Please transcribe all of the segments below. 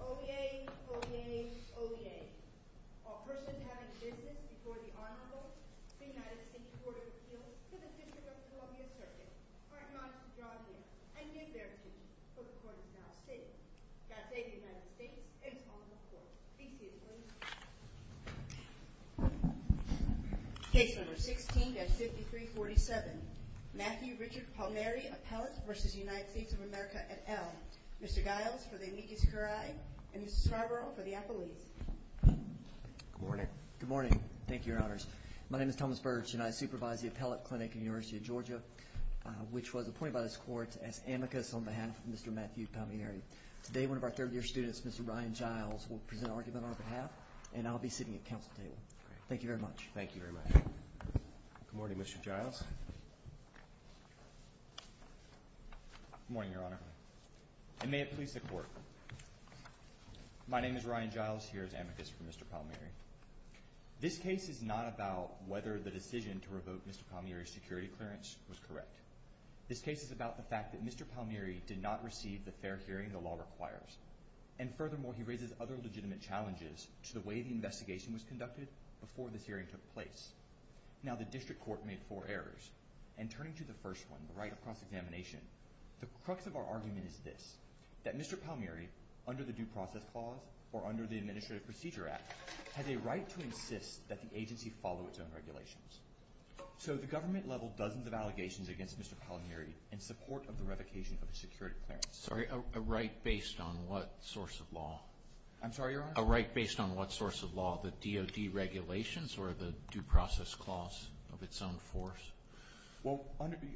OBA, OBA, OBA, all persons having business before the Honorable United States Court of Appeals to the 51st Columbia Circuit are admonished to draw near and give their treatment so the court is now safe. God save the United States and its Honorable Court. Be seated, please. Case number 16-5347, Matthew Richard Palmieri, Appellate v. United States of America et al. Mr. Giles for the amicus curiae and Mr. Scarborough for the appellees. Good morning. Good morning. Thank you, Your Honors. My name is Thomas Birch and I supervise the Appellate Clinic at the University of Georgia, which was appointed by this court as amicus on behalf of Mr. Matthew Palmieri. Today, one of our third-year students, Mr. Ryan Giles, will present an argument on our behalf and I'll be sitting at counsel's table. Thank you very much. Good morning, Mr. Giles. Good morning, Your Honor. And may it please the Court, my name is Ryan Giles, here as amicus for Mr. Palmieri. This case is not about whether the decision to revoke Mr. Palmieri's security clearance was correct. This case is about the fact that Mr. Palmieri did not receive the fair hearing the law requires. And furthermore, he raises other legitimate challenges to the way the investigation was conducted before this hearing took place. Now, the district court made four errors. And turning to the first one, the right of cross-examination, the crux of our argument is this, that Mr. Palmieri, under the Due Process Clause or under the Administrative Procedure Act, has a right to insist that the agency follow its own regulations. So the government leveled dozens of allegations against Mr. Palmieri in support of the revocation of the security clearance. Sorry, a right based on what source of law? I'm sorry, Your Honor? A right based on what source of law? The DOD regulations or the Due Process Clause of its own force? Well,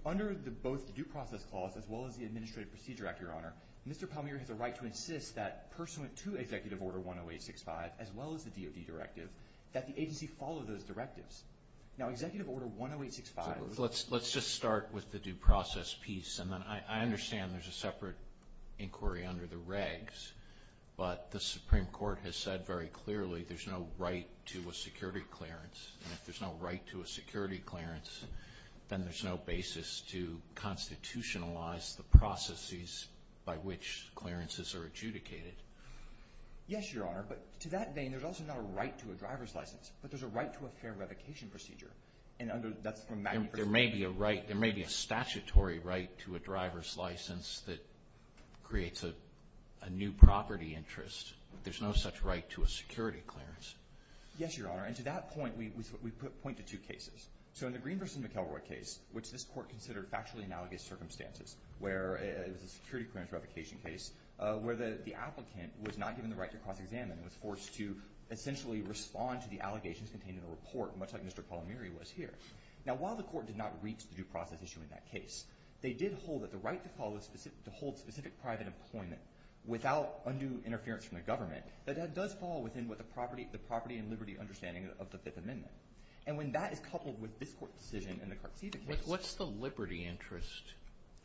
under both the Due Process Clause as well as the Administrative Procedure Act, Your Honor, Mr. Palmieri has a right to insist that, pursuant to Executive Order 10865 as well as the DOD directive, that the agency follow those directives. Now, Executive Order 10865... Let's just start with the due process piece, and then I understand there's a separate inquiry under the regs, but the Supreme Court has said very clearly there's no right to a security clearance. And if there's no right to a security clearance, then there's no basis to constitutionalize the processes by which clearances are adjudicated. Yes, Your Honor, but to that vein, there's also not a right to a driver's license, but there's a right to a fair revocation procedure. There may be a statutory right to a driver's license that creates a new property interest. There's no such right to a security clearance. Yes, Your Honor, and to that point, we point to two cases. So in the Green v. McElroy case, which this court considered factually analogous circumstances, where it was a security clearance revocation case, where the applicant was not given the right to cross-examine and was forced to essentially respond to the allegations contained in the report, much like Mr. Palmieri was here. Now, while the court did not reach the due process issue in that case, they did hold that the right to hold specific private employment without undue interference from the government, that does fall within the property and liberty understanding of the Fifth Amendment. And when that is coupled with this court's decision in the Cartesia case… What's the liberty interest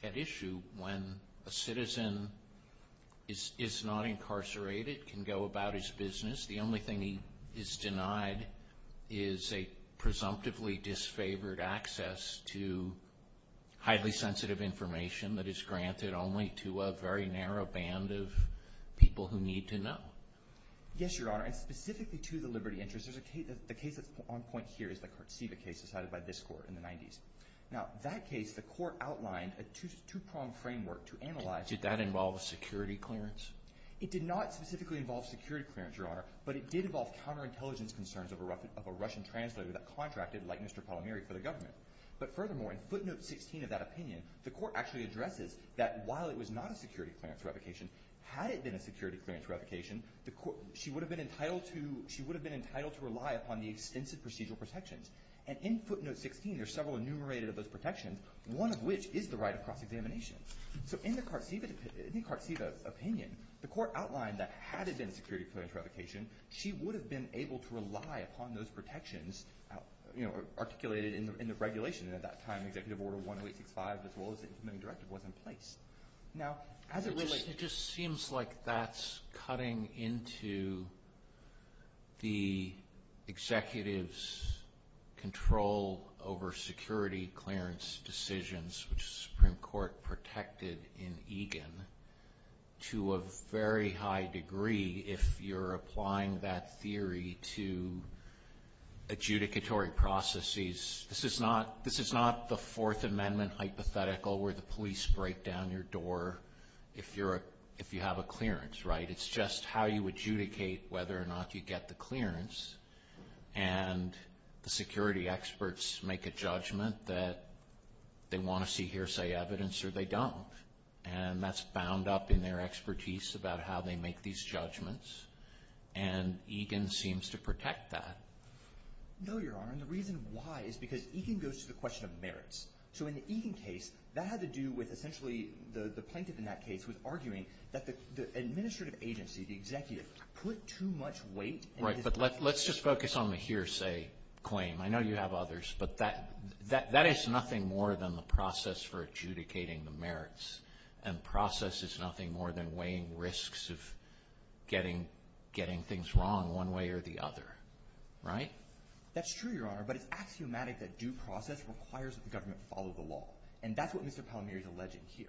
at issue when a citizen is not incarcerated, can go about his business, the only thing he is denied is a presumptively disfavored access to highly sensitive information that is granted only to a very narrow band of people who need to know? Yes, Your Honor, and specifically to the liberty interest, the case that's on point here is the Cartesia case decided by this court in the 90s. Now, that case, the court outlined a two-pronged framework to analyze… Did that involve security clearance? It did not specifically involve security clearance, Your Honor, but it did involve counterintelligence concerns of a Russian translator that contracted, like Mr. Palmieri, for the government. But furthermore, in footnote 16 of that opinion, the court actually addresses that while it was not a security clearance revocation, had it been a security clearance revocation, she would have been entitled to rely upon the extensive procedural protections. And in footnote 16, there are several enumerated of those protections, one of which is the right of cross-examination. So in the Cartesia opinion, the court outlined that had it been a security clearance revocation, she would have been able to rely upon those protections articulated in the regulation. And at that time, Executive Order 10865, as well as the implementing directive, was in place. It just seems like that's cutting into the executive's control over security clearance decisions, which the Supreme Court protected in Egan, to a very high degree if you're applying that theory to adjudicatory processes. This is not the Fourth Amendment hypothetical where the police break down your door if you have a clearance, right? It's just how you adjudicate whether or not you get the clearance. And the security experts make a judgment that they want to see hearsay evidence or they don't. And that's bound up in their expertise about how they make these judgments. And Egan seems to protect that. No, Your Honor, and the reason why is because Egan goes to the question of merits. So in the Egan case, that had to do with essentially the plaintiff in that case was arguing that the administrative agency, the executive, put too much weight. Right, but let's just focus on the hearsay claim. I know you have others, but that is nothing more than the process for adjudicating the merits. And process is nothing more than weighing risks of getting things wrong one way or the other, right? That's true, Your Honor, but it's axiomatic that due process requires that the government follow the law. And that's what Mr. Palmieri is alleging here.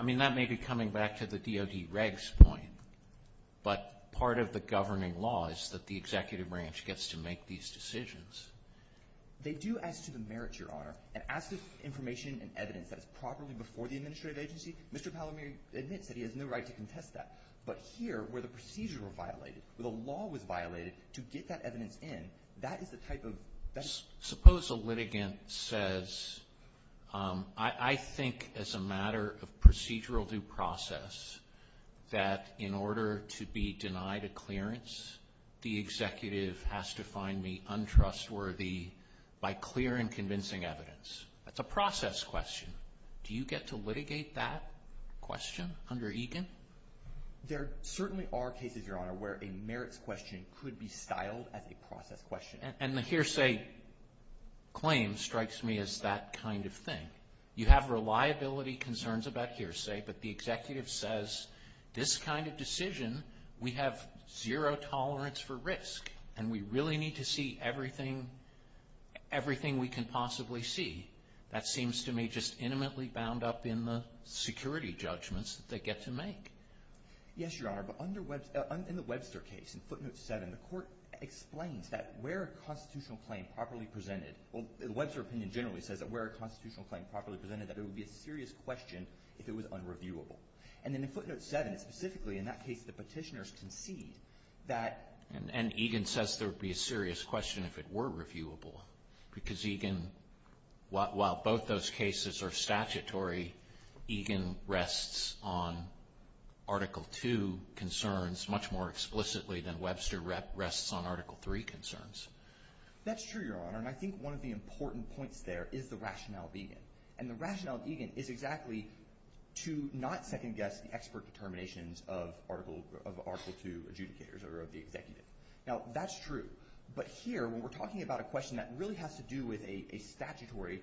I mean, that may be coming back to the DOD regs point, but part of the governing law is that the executive branch gets to make these decisions. They do as to the merits, Your Honor, and as to information and evidence that is properly before the administrative agency, Mr. Palmieri admits that he has no right to contest that. But here, where the procedures were violated, where the law was violated to get that evidence in, that is the type of – Suppose a litigant says, I think as a matter of procedural due process that in order to be denied a clearance, the executive has to find me untrustworthy by clear and convincing evidence. That's a process question. Do you get to litigate that question under EGAN? There certainly are cases, Your Honor, where a merits question could be styled as a process question. And the hearsay claim strikes me as that kind of thing. You have reliability concerns about hearsay, but the executive says this kind of decision, we have zero tolerance for risk, and we really need to see everything we can possibly see. That seems to me just intimately bound up in the security judgments that they get to make. Yes, Your Honor. But in the Webster case, in footnote 7, the court explains that where a constitutional claim properly presented – well, the Webster opinion generally says that where a constitutional claim properly presented, that it would be a serious question if it was unreviewable. And then in footnote 7, specifically in that case, the petitioners concede that – And EGAN says there would be a serious question if it were reviewable, because EGAN, while both those cases are statutory, EGAN rests on Article 2 concerns much more explicitly than Webster rests on Article 3 concerns. That's true, Your Honor. And I think one of the important points there is the rationale of EGAN. And the rationale of EGAN is exactly to not second-guess the expert determinations of Article 2 adjudicators or of the executive. Now, that's true. But here, when we're talking about a question that really has to do with a statutory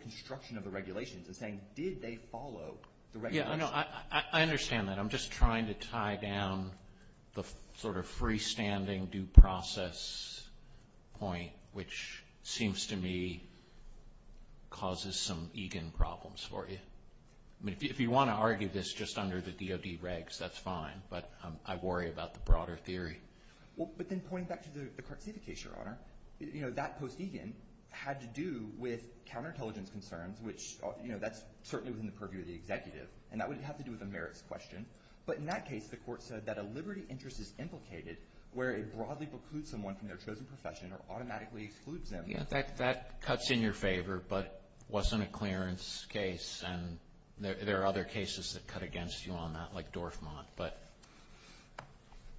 construction of the regulations and saying, did they follow the regulations? Yeah, I know. I understand that. I'm just trying to tie down the sort of freestanding due process point, which seems to me causes some EGAN problems for you. I mean, if you want to argue this just under the DOD regs, that's fine. But I worry about the broader theory. Well, but then pointing back to the Cartsevich case, Your Honor, you know, that post EGAN had to do with counterintelligence concerns, which, you know, that's certainly within the purview of the executive. And that would have to do with the merits question. But in that case, the court said that a liberty interest is implicated where it broadly precludes someone from their chosen profession or automatically excludes them. Yeah, that cuts in your favor but wasn't a clearance case. And there are other cases that cut against you on that, like Dorfman.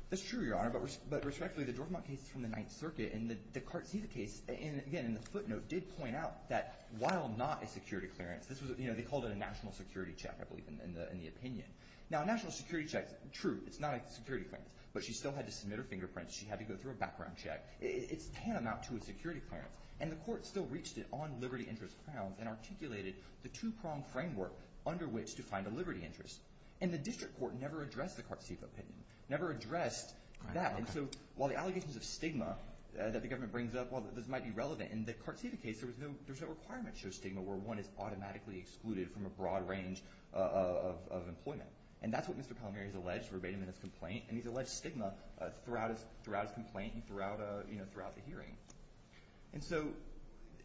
That's true, Your Honor. But respectfully, the Dorfman case is from the Ninth Circuit. And the Cartsevich case, again, in the footnote, did point out that while not a security clearance, this was, you know, they called it a national security check, I believe, in the opinion. Now, a national security check is true. It's not a security clearance. But she still had to submit her fingerprints. She had to go through a background check. It's tantamount to a security clearance. And the court still reached it on liberty interest grounds and articulated the two-pronged framework under which to find a liberty interest. And the district court never addressed the Cartsevich opinion, never addressed that. And so while the allegations of stigma that the government brings up, well, this might be relevant. In the Cartsevich case, there was no requirement to show stigma where one is automatically excluded from a broad range of employment. And that's what Mr. Palmieri has alleged verbatim in his complaint. And he's alleged stigma throughout his complaint and throughout the hearing. And so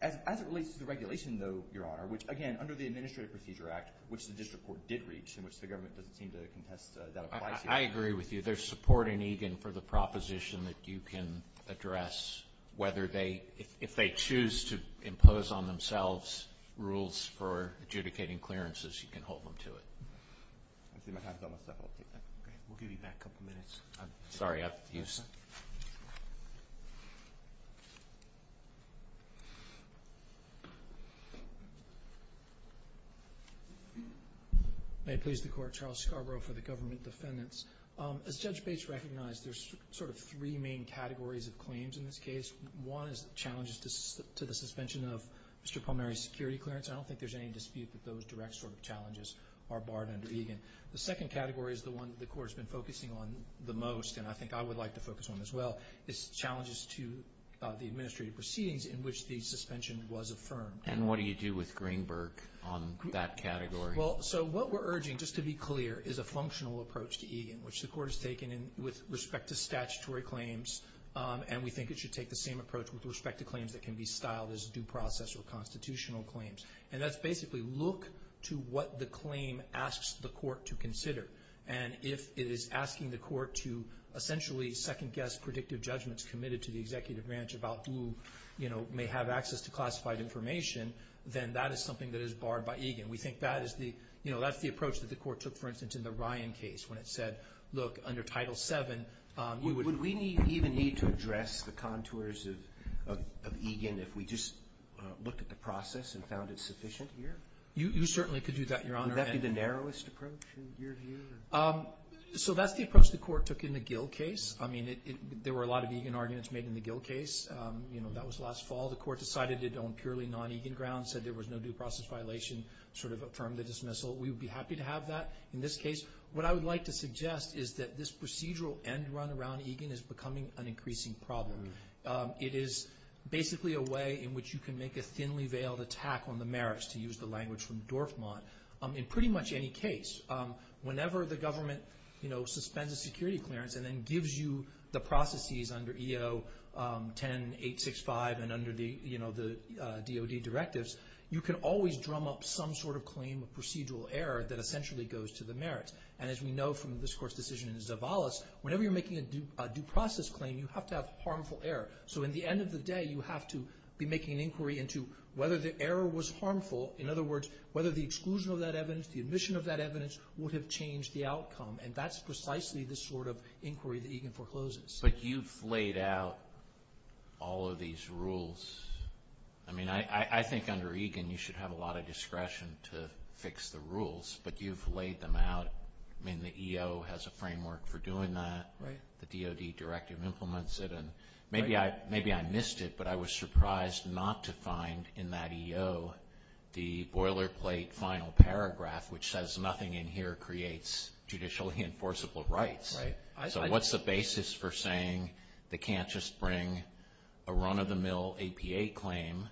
as it relates to the regulation, though, Your Honor, which, again, under the Administrative Procedure Act, which the district court did reach and which the government doesn't seem to contest, that applies here. I agree with you. There's support in Egan for the proposition that you can address whether they – if they choose to impose on themselves rules for adjudicating clearances, you can hold them to it. I see my hat's on myself. I'll take that. Okay. We'll give you that couple minutes. Sorry. May it please the Court. Charles Scarborough for the Government Defendants. As Judge Bates recognized, there's sort of three main categories of claims in this case. One is challenges to the suspension of Mr. Palmieri's security clearance. I don't think there's any dispute that those direct sort of challenges are barred under Egan. The second category is the one the Court has been focusing on the most, and I think I would like to focus on as well, is challenges to the administrative proceedings in which the suspension was affirmed. And what do you do with Greenberg on that category? Well, so what we're urging, just to be clear, is a functional approach to Egan, which the Court has taken with respect to statutory claims, and we think it should take the same approach with respect to claims that can be styled as due process or constitutional claims. And that's basically look to what the claim asks the Court to consider. And if it is asking the Court to essentially second-guess predictive judgments committed to the executive branch about who, you know, may have access to classified information, then that is something that is barred by Egan. We think that is the, you know, that's the approach that the Court took, for instance, in the Ryan case, when it said, look, under Title VII, you would... have looked at the process and found it sufficient here? You certainly could do that, Your Honor. Would that be the narrowest approach, in your view? So that's the approach the Court took in the Gill case. I mean, there were a lot of Egan arguments made in the Gill case. You know, that was last fall. The Court decided it on purely non-Egan grounds, said there was no due process violation, sort of affirmed the dismissal. We would be happy to have that in this case. What I would like to suggest is that this procedural end run around Egan is becoming an increasing problem. It is basically a way in which you can make a thinly veiled attack on the merits, to use the language from Dorfman, in pretty much any case. Whenever the government, you know, suspends a security clearance and then gives you the processes under EO 10-865 and under the, you know, the DOD directives, you can always drum up some sort of claim of procedural error that essentially goes to the merits. And as we know from this Court's decision in Zavalas, whenever you're making a due process claim, you have to have harmful error. So in the end of the day, you have to be making an inquiry into whether the error was harmful. In other words, whether the exclusion of that evidence, the admission of that evidence, would have changed the outcome. And that's precisely the sort of inquiry that Egan forecloses. But you've laid out all of these rules. I mean, I think under Egan you should have a lot of discretion to fix the rules, but you've laid them out. I mean, the EO has a framework for doing that. Right. The DOD directive implements it. And maybe I missed it, but I was surprised not to find in that EO the boilerplate final paragraph, which says nothing in here creates judicially enforceable rights. Right. So what's the basis for saying they can't just bring a run-of-the-mill APA claim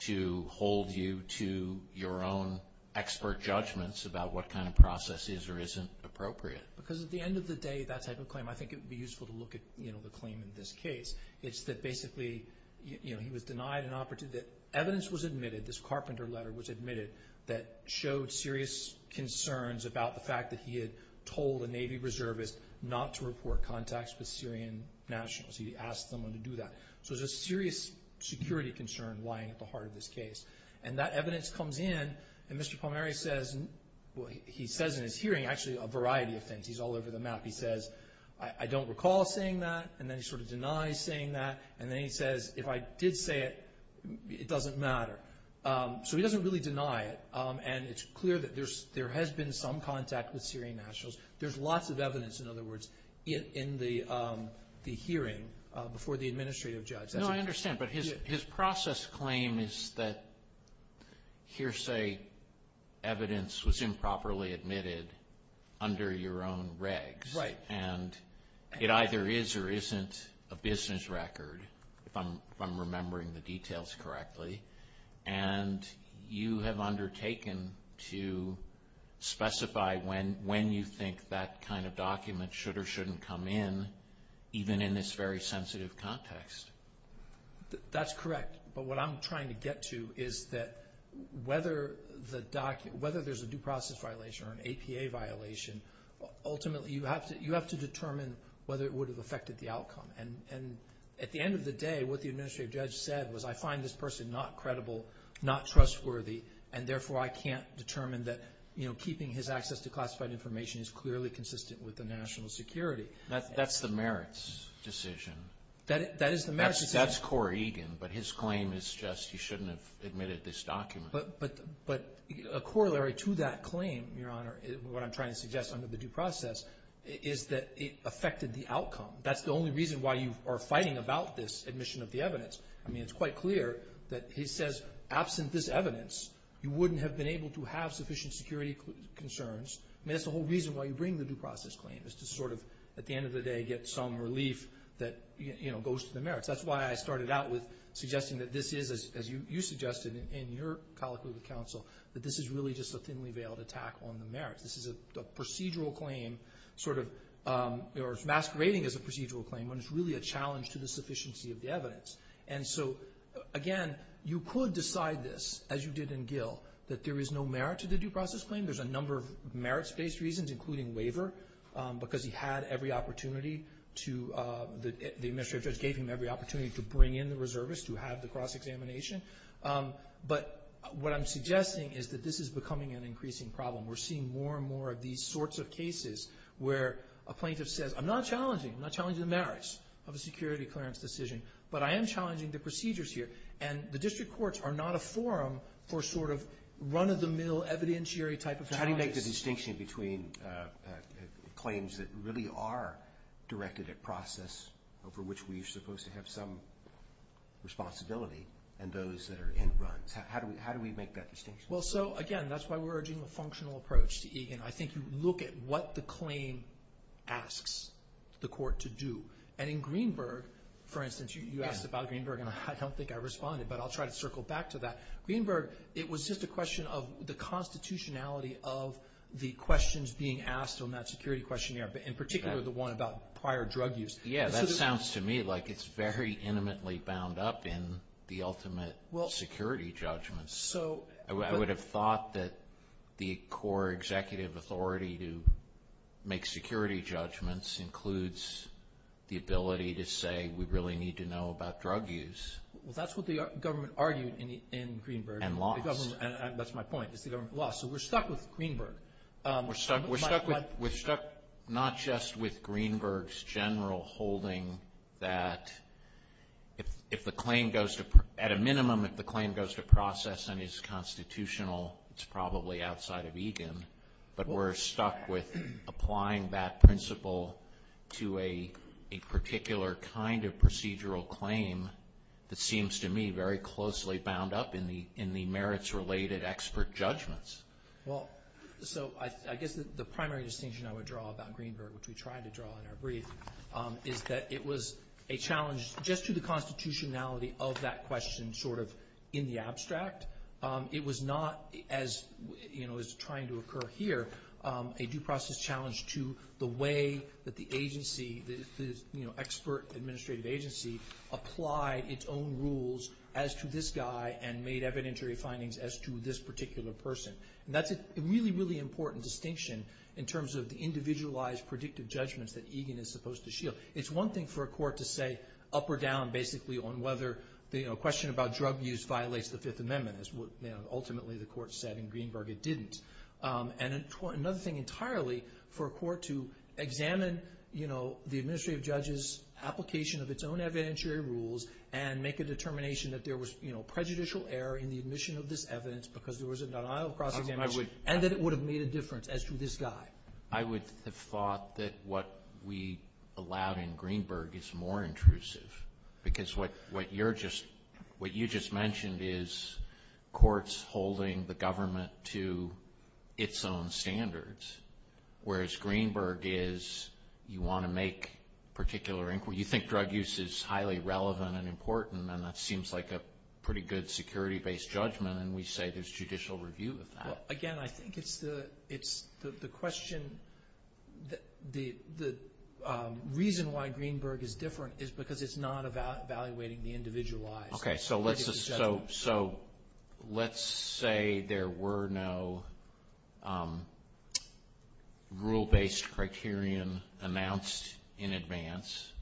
to hold you to your own expert judgments about what kind of process is or isn't appropriate? Because at the end of the day, that type of claim, I think it would be useful to look at the claim in this case. It's that basically he was denied an opportunity. Evidence was admitted, this Carpenter letter was admitted, that showed serious concerns about the fact that he had told a Navy reservist not to report contacts with Syrian nationals. He asked someone to do that. So there's a serious security concern lying at the heart of this case. And that evidence comes in. And Mr. Palmieri says, he says in his hearing actually a variety of things. He's all over the map. He says, I don't recall saying that. And then he sort of denies saying that. And then he says, if I did say it, it doesn't matter. So he doesn't really deny it. And it's clear that there has been some contact with Syrian nationals. There's lots of evidence, in other words, in the hearing before the administrative judge. No, I understand. But his process claim is that hearsay evidence was improperly admitted under your own regs. Right. And it either is or isn't a business record, if I'm remembering the details correctly. And you have undertaken to specify when you think that kind of document should or shouldn't come in, even in this very sensitive context. That's correct. But what I'm trying to get to is that whether there's a due process violation or an APA violation, ultimately you have to determine whether it would have affected the outcome. And at the end of the day, what the administrative judge said was, I find this person not credible, not trustworthy, and therefore I can't determine that keeping his access to classified information is clearly consistent with the national security. That's the merits decision. That is the merits decision. That's Cora Egan, but his claim is just he shouldn't have admitted this document. But a corollary to that claim, Your Honor, what I'm trying to suggest under the due process, is that it affected the outcome. That's the only reason why you are fighting about this admission of the evidence. I mean, it's quite clear that he says, absent this evidence, you wouldn't have been able to have sufficient security concerns. I mean, that's the whole reason why you bring the due process claim, is to sort of, at the end of the day, get some relief that goes to the merits. That's why I started out with suggesting that this is, as you suggested in your colloquy with counsel, that this is really just a thinly veiled attack on the merits. This is a procedural claim, sort of, or masquerading as a procedural claim, when it's really a challenge to the sufficiency of the evidence. And so, again, you could decide this, as you did in Gill, that there is no merit to the due process claim. There's a number of merits-based reasons, including waiver, because he had every opportunity to the administrative judge gave him every opportunity to bring in the reservist to have the cross-examination. But what I'm suggesting is that this is becoming an increasing problem. We're seeing more and more of these sorts of cases where a plaintiff says, I'm not challenging, I'm not challenging the merits of a security clearance decision, but I am challenging the procedures here. And the district courts are not a forum for sort of run-of-the-mill evidentiary type of analysis. How do you make the distinction between claims that really are directed at process, over which we're supposed to have some responsibility, and those that are in runs? How do we make that distinction? Well, so, again, that's why we're urging a functional approach to EGAN. I think you look at what the claim asks the court to do. And in Greenberg, for instance, you asked about Greenberg, and I don't think I responded, but I'll try to circle back to that. Greenberg, it was just a question of the constitutionality of the questions being asked on that security questionnaire, in particular the one about prior drug use. Yeah, that sounds to me like it's very intimately bound up in the ultimate security judgments. I would have thought that the core executive authority to make security judgments includes the ability to say, we really need to know about drug use. Well, that's what the government argued in Greenberg. And laws. That's my point, is the government laws. So we're stuck with Greenberg. We're stuck not just with Greenberg's general holding that if the claim goes to, at a minimum, if the claim goes to process and is constitutional, it's probably outside of EGAN. But we're stuck with applying that principle to a particular kind of procedural claim that seems to me very closely bound up in the merits-related expert judgments. Well, so I guess the primary distinction I would draw about Greenberg, which we tried to draw in our brief, is that it was a challenge just to the constitutionality of that question sort of in the abstract. It was not, as is trying to occur here, a due process challenge to the way that the agency, the expert administrative agency applied its own rules as to this guy and made evidentiary findings as to this particular person. And that's a really, really important distinction in terms of the individualized predictive judgments that EGAN is supposed to shield. It's one thing for a court to say up or down basically on whether, you know, a question about drug use violates the Fifth Amendment. Ultimately, the court said in Greenberg it didn't. And another thing entirely for a court to examine, you know, the administrative judge's application of its own evidentiary rules and make a determination that there was, you know, prejudicial error in the admission of this evidence because there was a denial of cross-examination and that it would have made a difference as to this guy. I would have thought that what we allowed in Greenberg is more intrusive because what you just mentioned is courts holding the government to its own standards, whereas Greenberg is you want to make particular inquiry. You think drug use is highly relevant and important, and that seems like a pretty good security-based judgment, and we say there's judicial review of that. Well, again, I think it's the question, the reason why Greenberg is different is because it's not about evaluating the individualized. Okay, so let's say there were no rule-based criterion announced in advance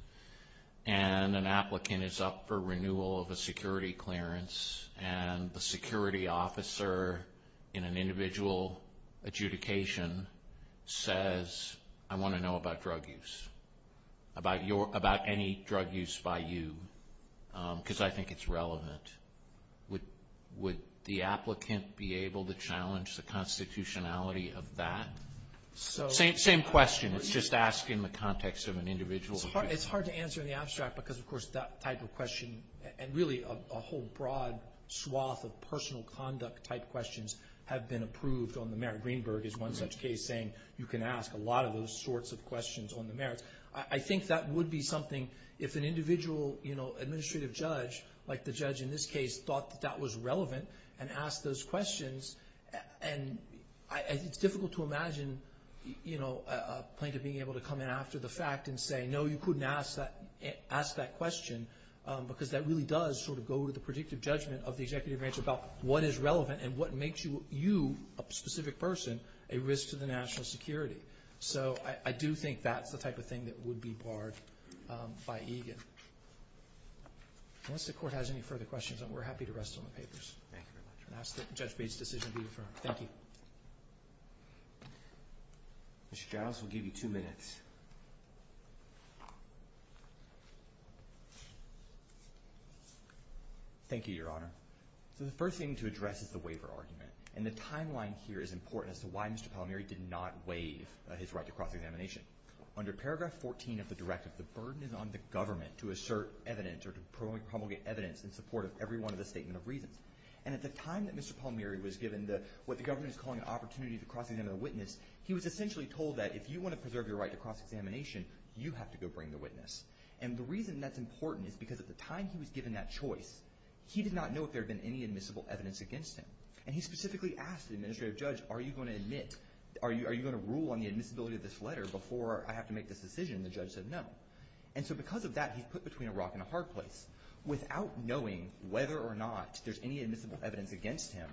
and an applicant is up for renewal of a security clearance and the security officer in an individual adjudication says, I want to know about drug use, about any drug use by you because I think it's relevant. Would the applicant be able to challenge the constitutionality of that? Same question, it's just asking the context of an individual. It's hard to answer in the abstract because, of course, that type of question and really a whole broad swath of personal conduct-type questions have been approved on the merits. Greenberg is one such case saying you can ask a lot of those sorts of questions on the merits. I think that would be something if an individual administrative judge, like the judge in this case, thought that that was relevant and asked those questions, and it's difficult to imagine a plaintiff being able to come in after the fact and say, I know you couldn't ask that question because that really does sort of go to the predictive judgment of the executive branch about what is relevant and what makes you, a specific person, a risk to the national security. So I do think that's the type of thing that would be barred by EGAN. Unless the Court has any further questions, we're happy to rest on the papers. Thank you very much. And ask that Judge Bates' decision be affirmed. Thank you. Mr. Giles, we'll give you two minutes. Thank you, Your Honor. So the first thing to address is the waiver argument, and the timeline here is important as to why Mr. Palmieri did not waive his right to cross-examination. Under paragraph 14 of the directive, the burden is on the government to assert evidence or to promulgate evidence in support of every one of the statement of reasons. And at the time that Mr. Palmieri was given what the government is calling an opportunity to cross-examine a witness, he was essentially told that if you want to preserve your right to cross-examination, you have to go bring the witness. And the reason that's important is because at the time he was given that choice, he did not know if there had been any admissible evidence against him. And he specifically asked the administrative judge, are you going to rule on the admissibility of this letter before I have to make this decision? And the judge said no. And so because of that, he's put between a rock and a hard place. Without knowing whether or not there's any admissible evidence against him,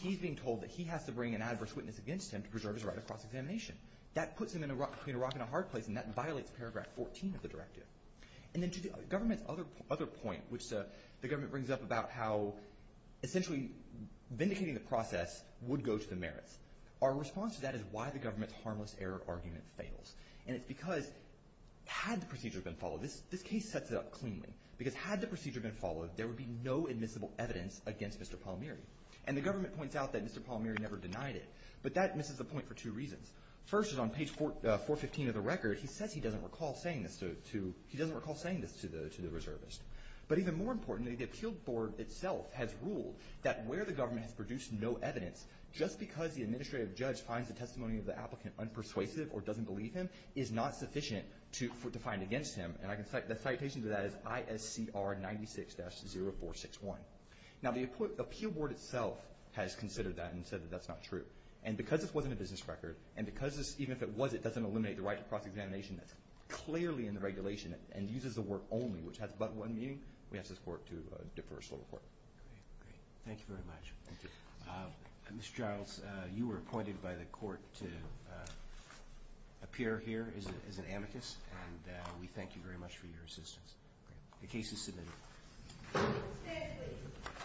he's being told that he has to bring an adverse witness against him to preserve his right to cross-examination. That puts him between a rock and a hard place, and that violates paragraph 14 of the directive. And then to the government's other point, which the government brings up about how essentially vindicating the process would go to the merits, our response to that is why the government's harmless error argument fails. And it's because had the procedure been followed, this case sets it up cleanly, because had the procedure been followed, there would be no admissible evidence against Mr. Palmieri. And the government points out that Mr. Palmieri never denied it. But that misses the point for two reasons. First is on page 415 of the record, he says he doesn't recall saying this to the reservist. But even more importantly, the appeal board itself has ruled that where the government has produced no evidence, just because the administrative judge finds the testimony of the applicant unpersuasive or doesn't believe him is not sufficient to find against him. And the citation to that is ISCR 96-0461. Now, the appeal board itself has considered that and said that that's not true. And because this wasn't a business record, and because this, even if it was, it doesn't eliminate the right to cross-examination that's clearly in the regulation and uses the word only, which has but one meaning, we ask this court to defer a slow report. Thank you very much. Mr. Giles, you were appointed by the court to appear here as an amicus, and we thank you very much for your assistance. The case is submitted.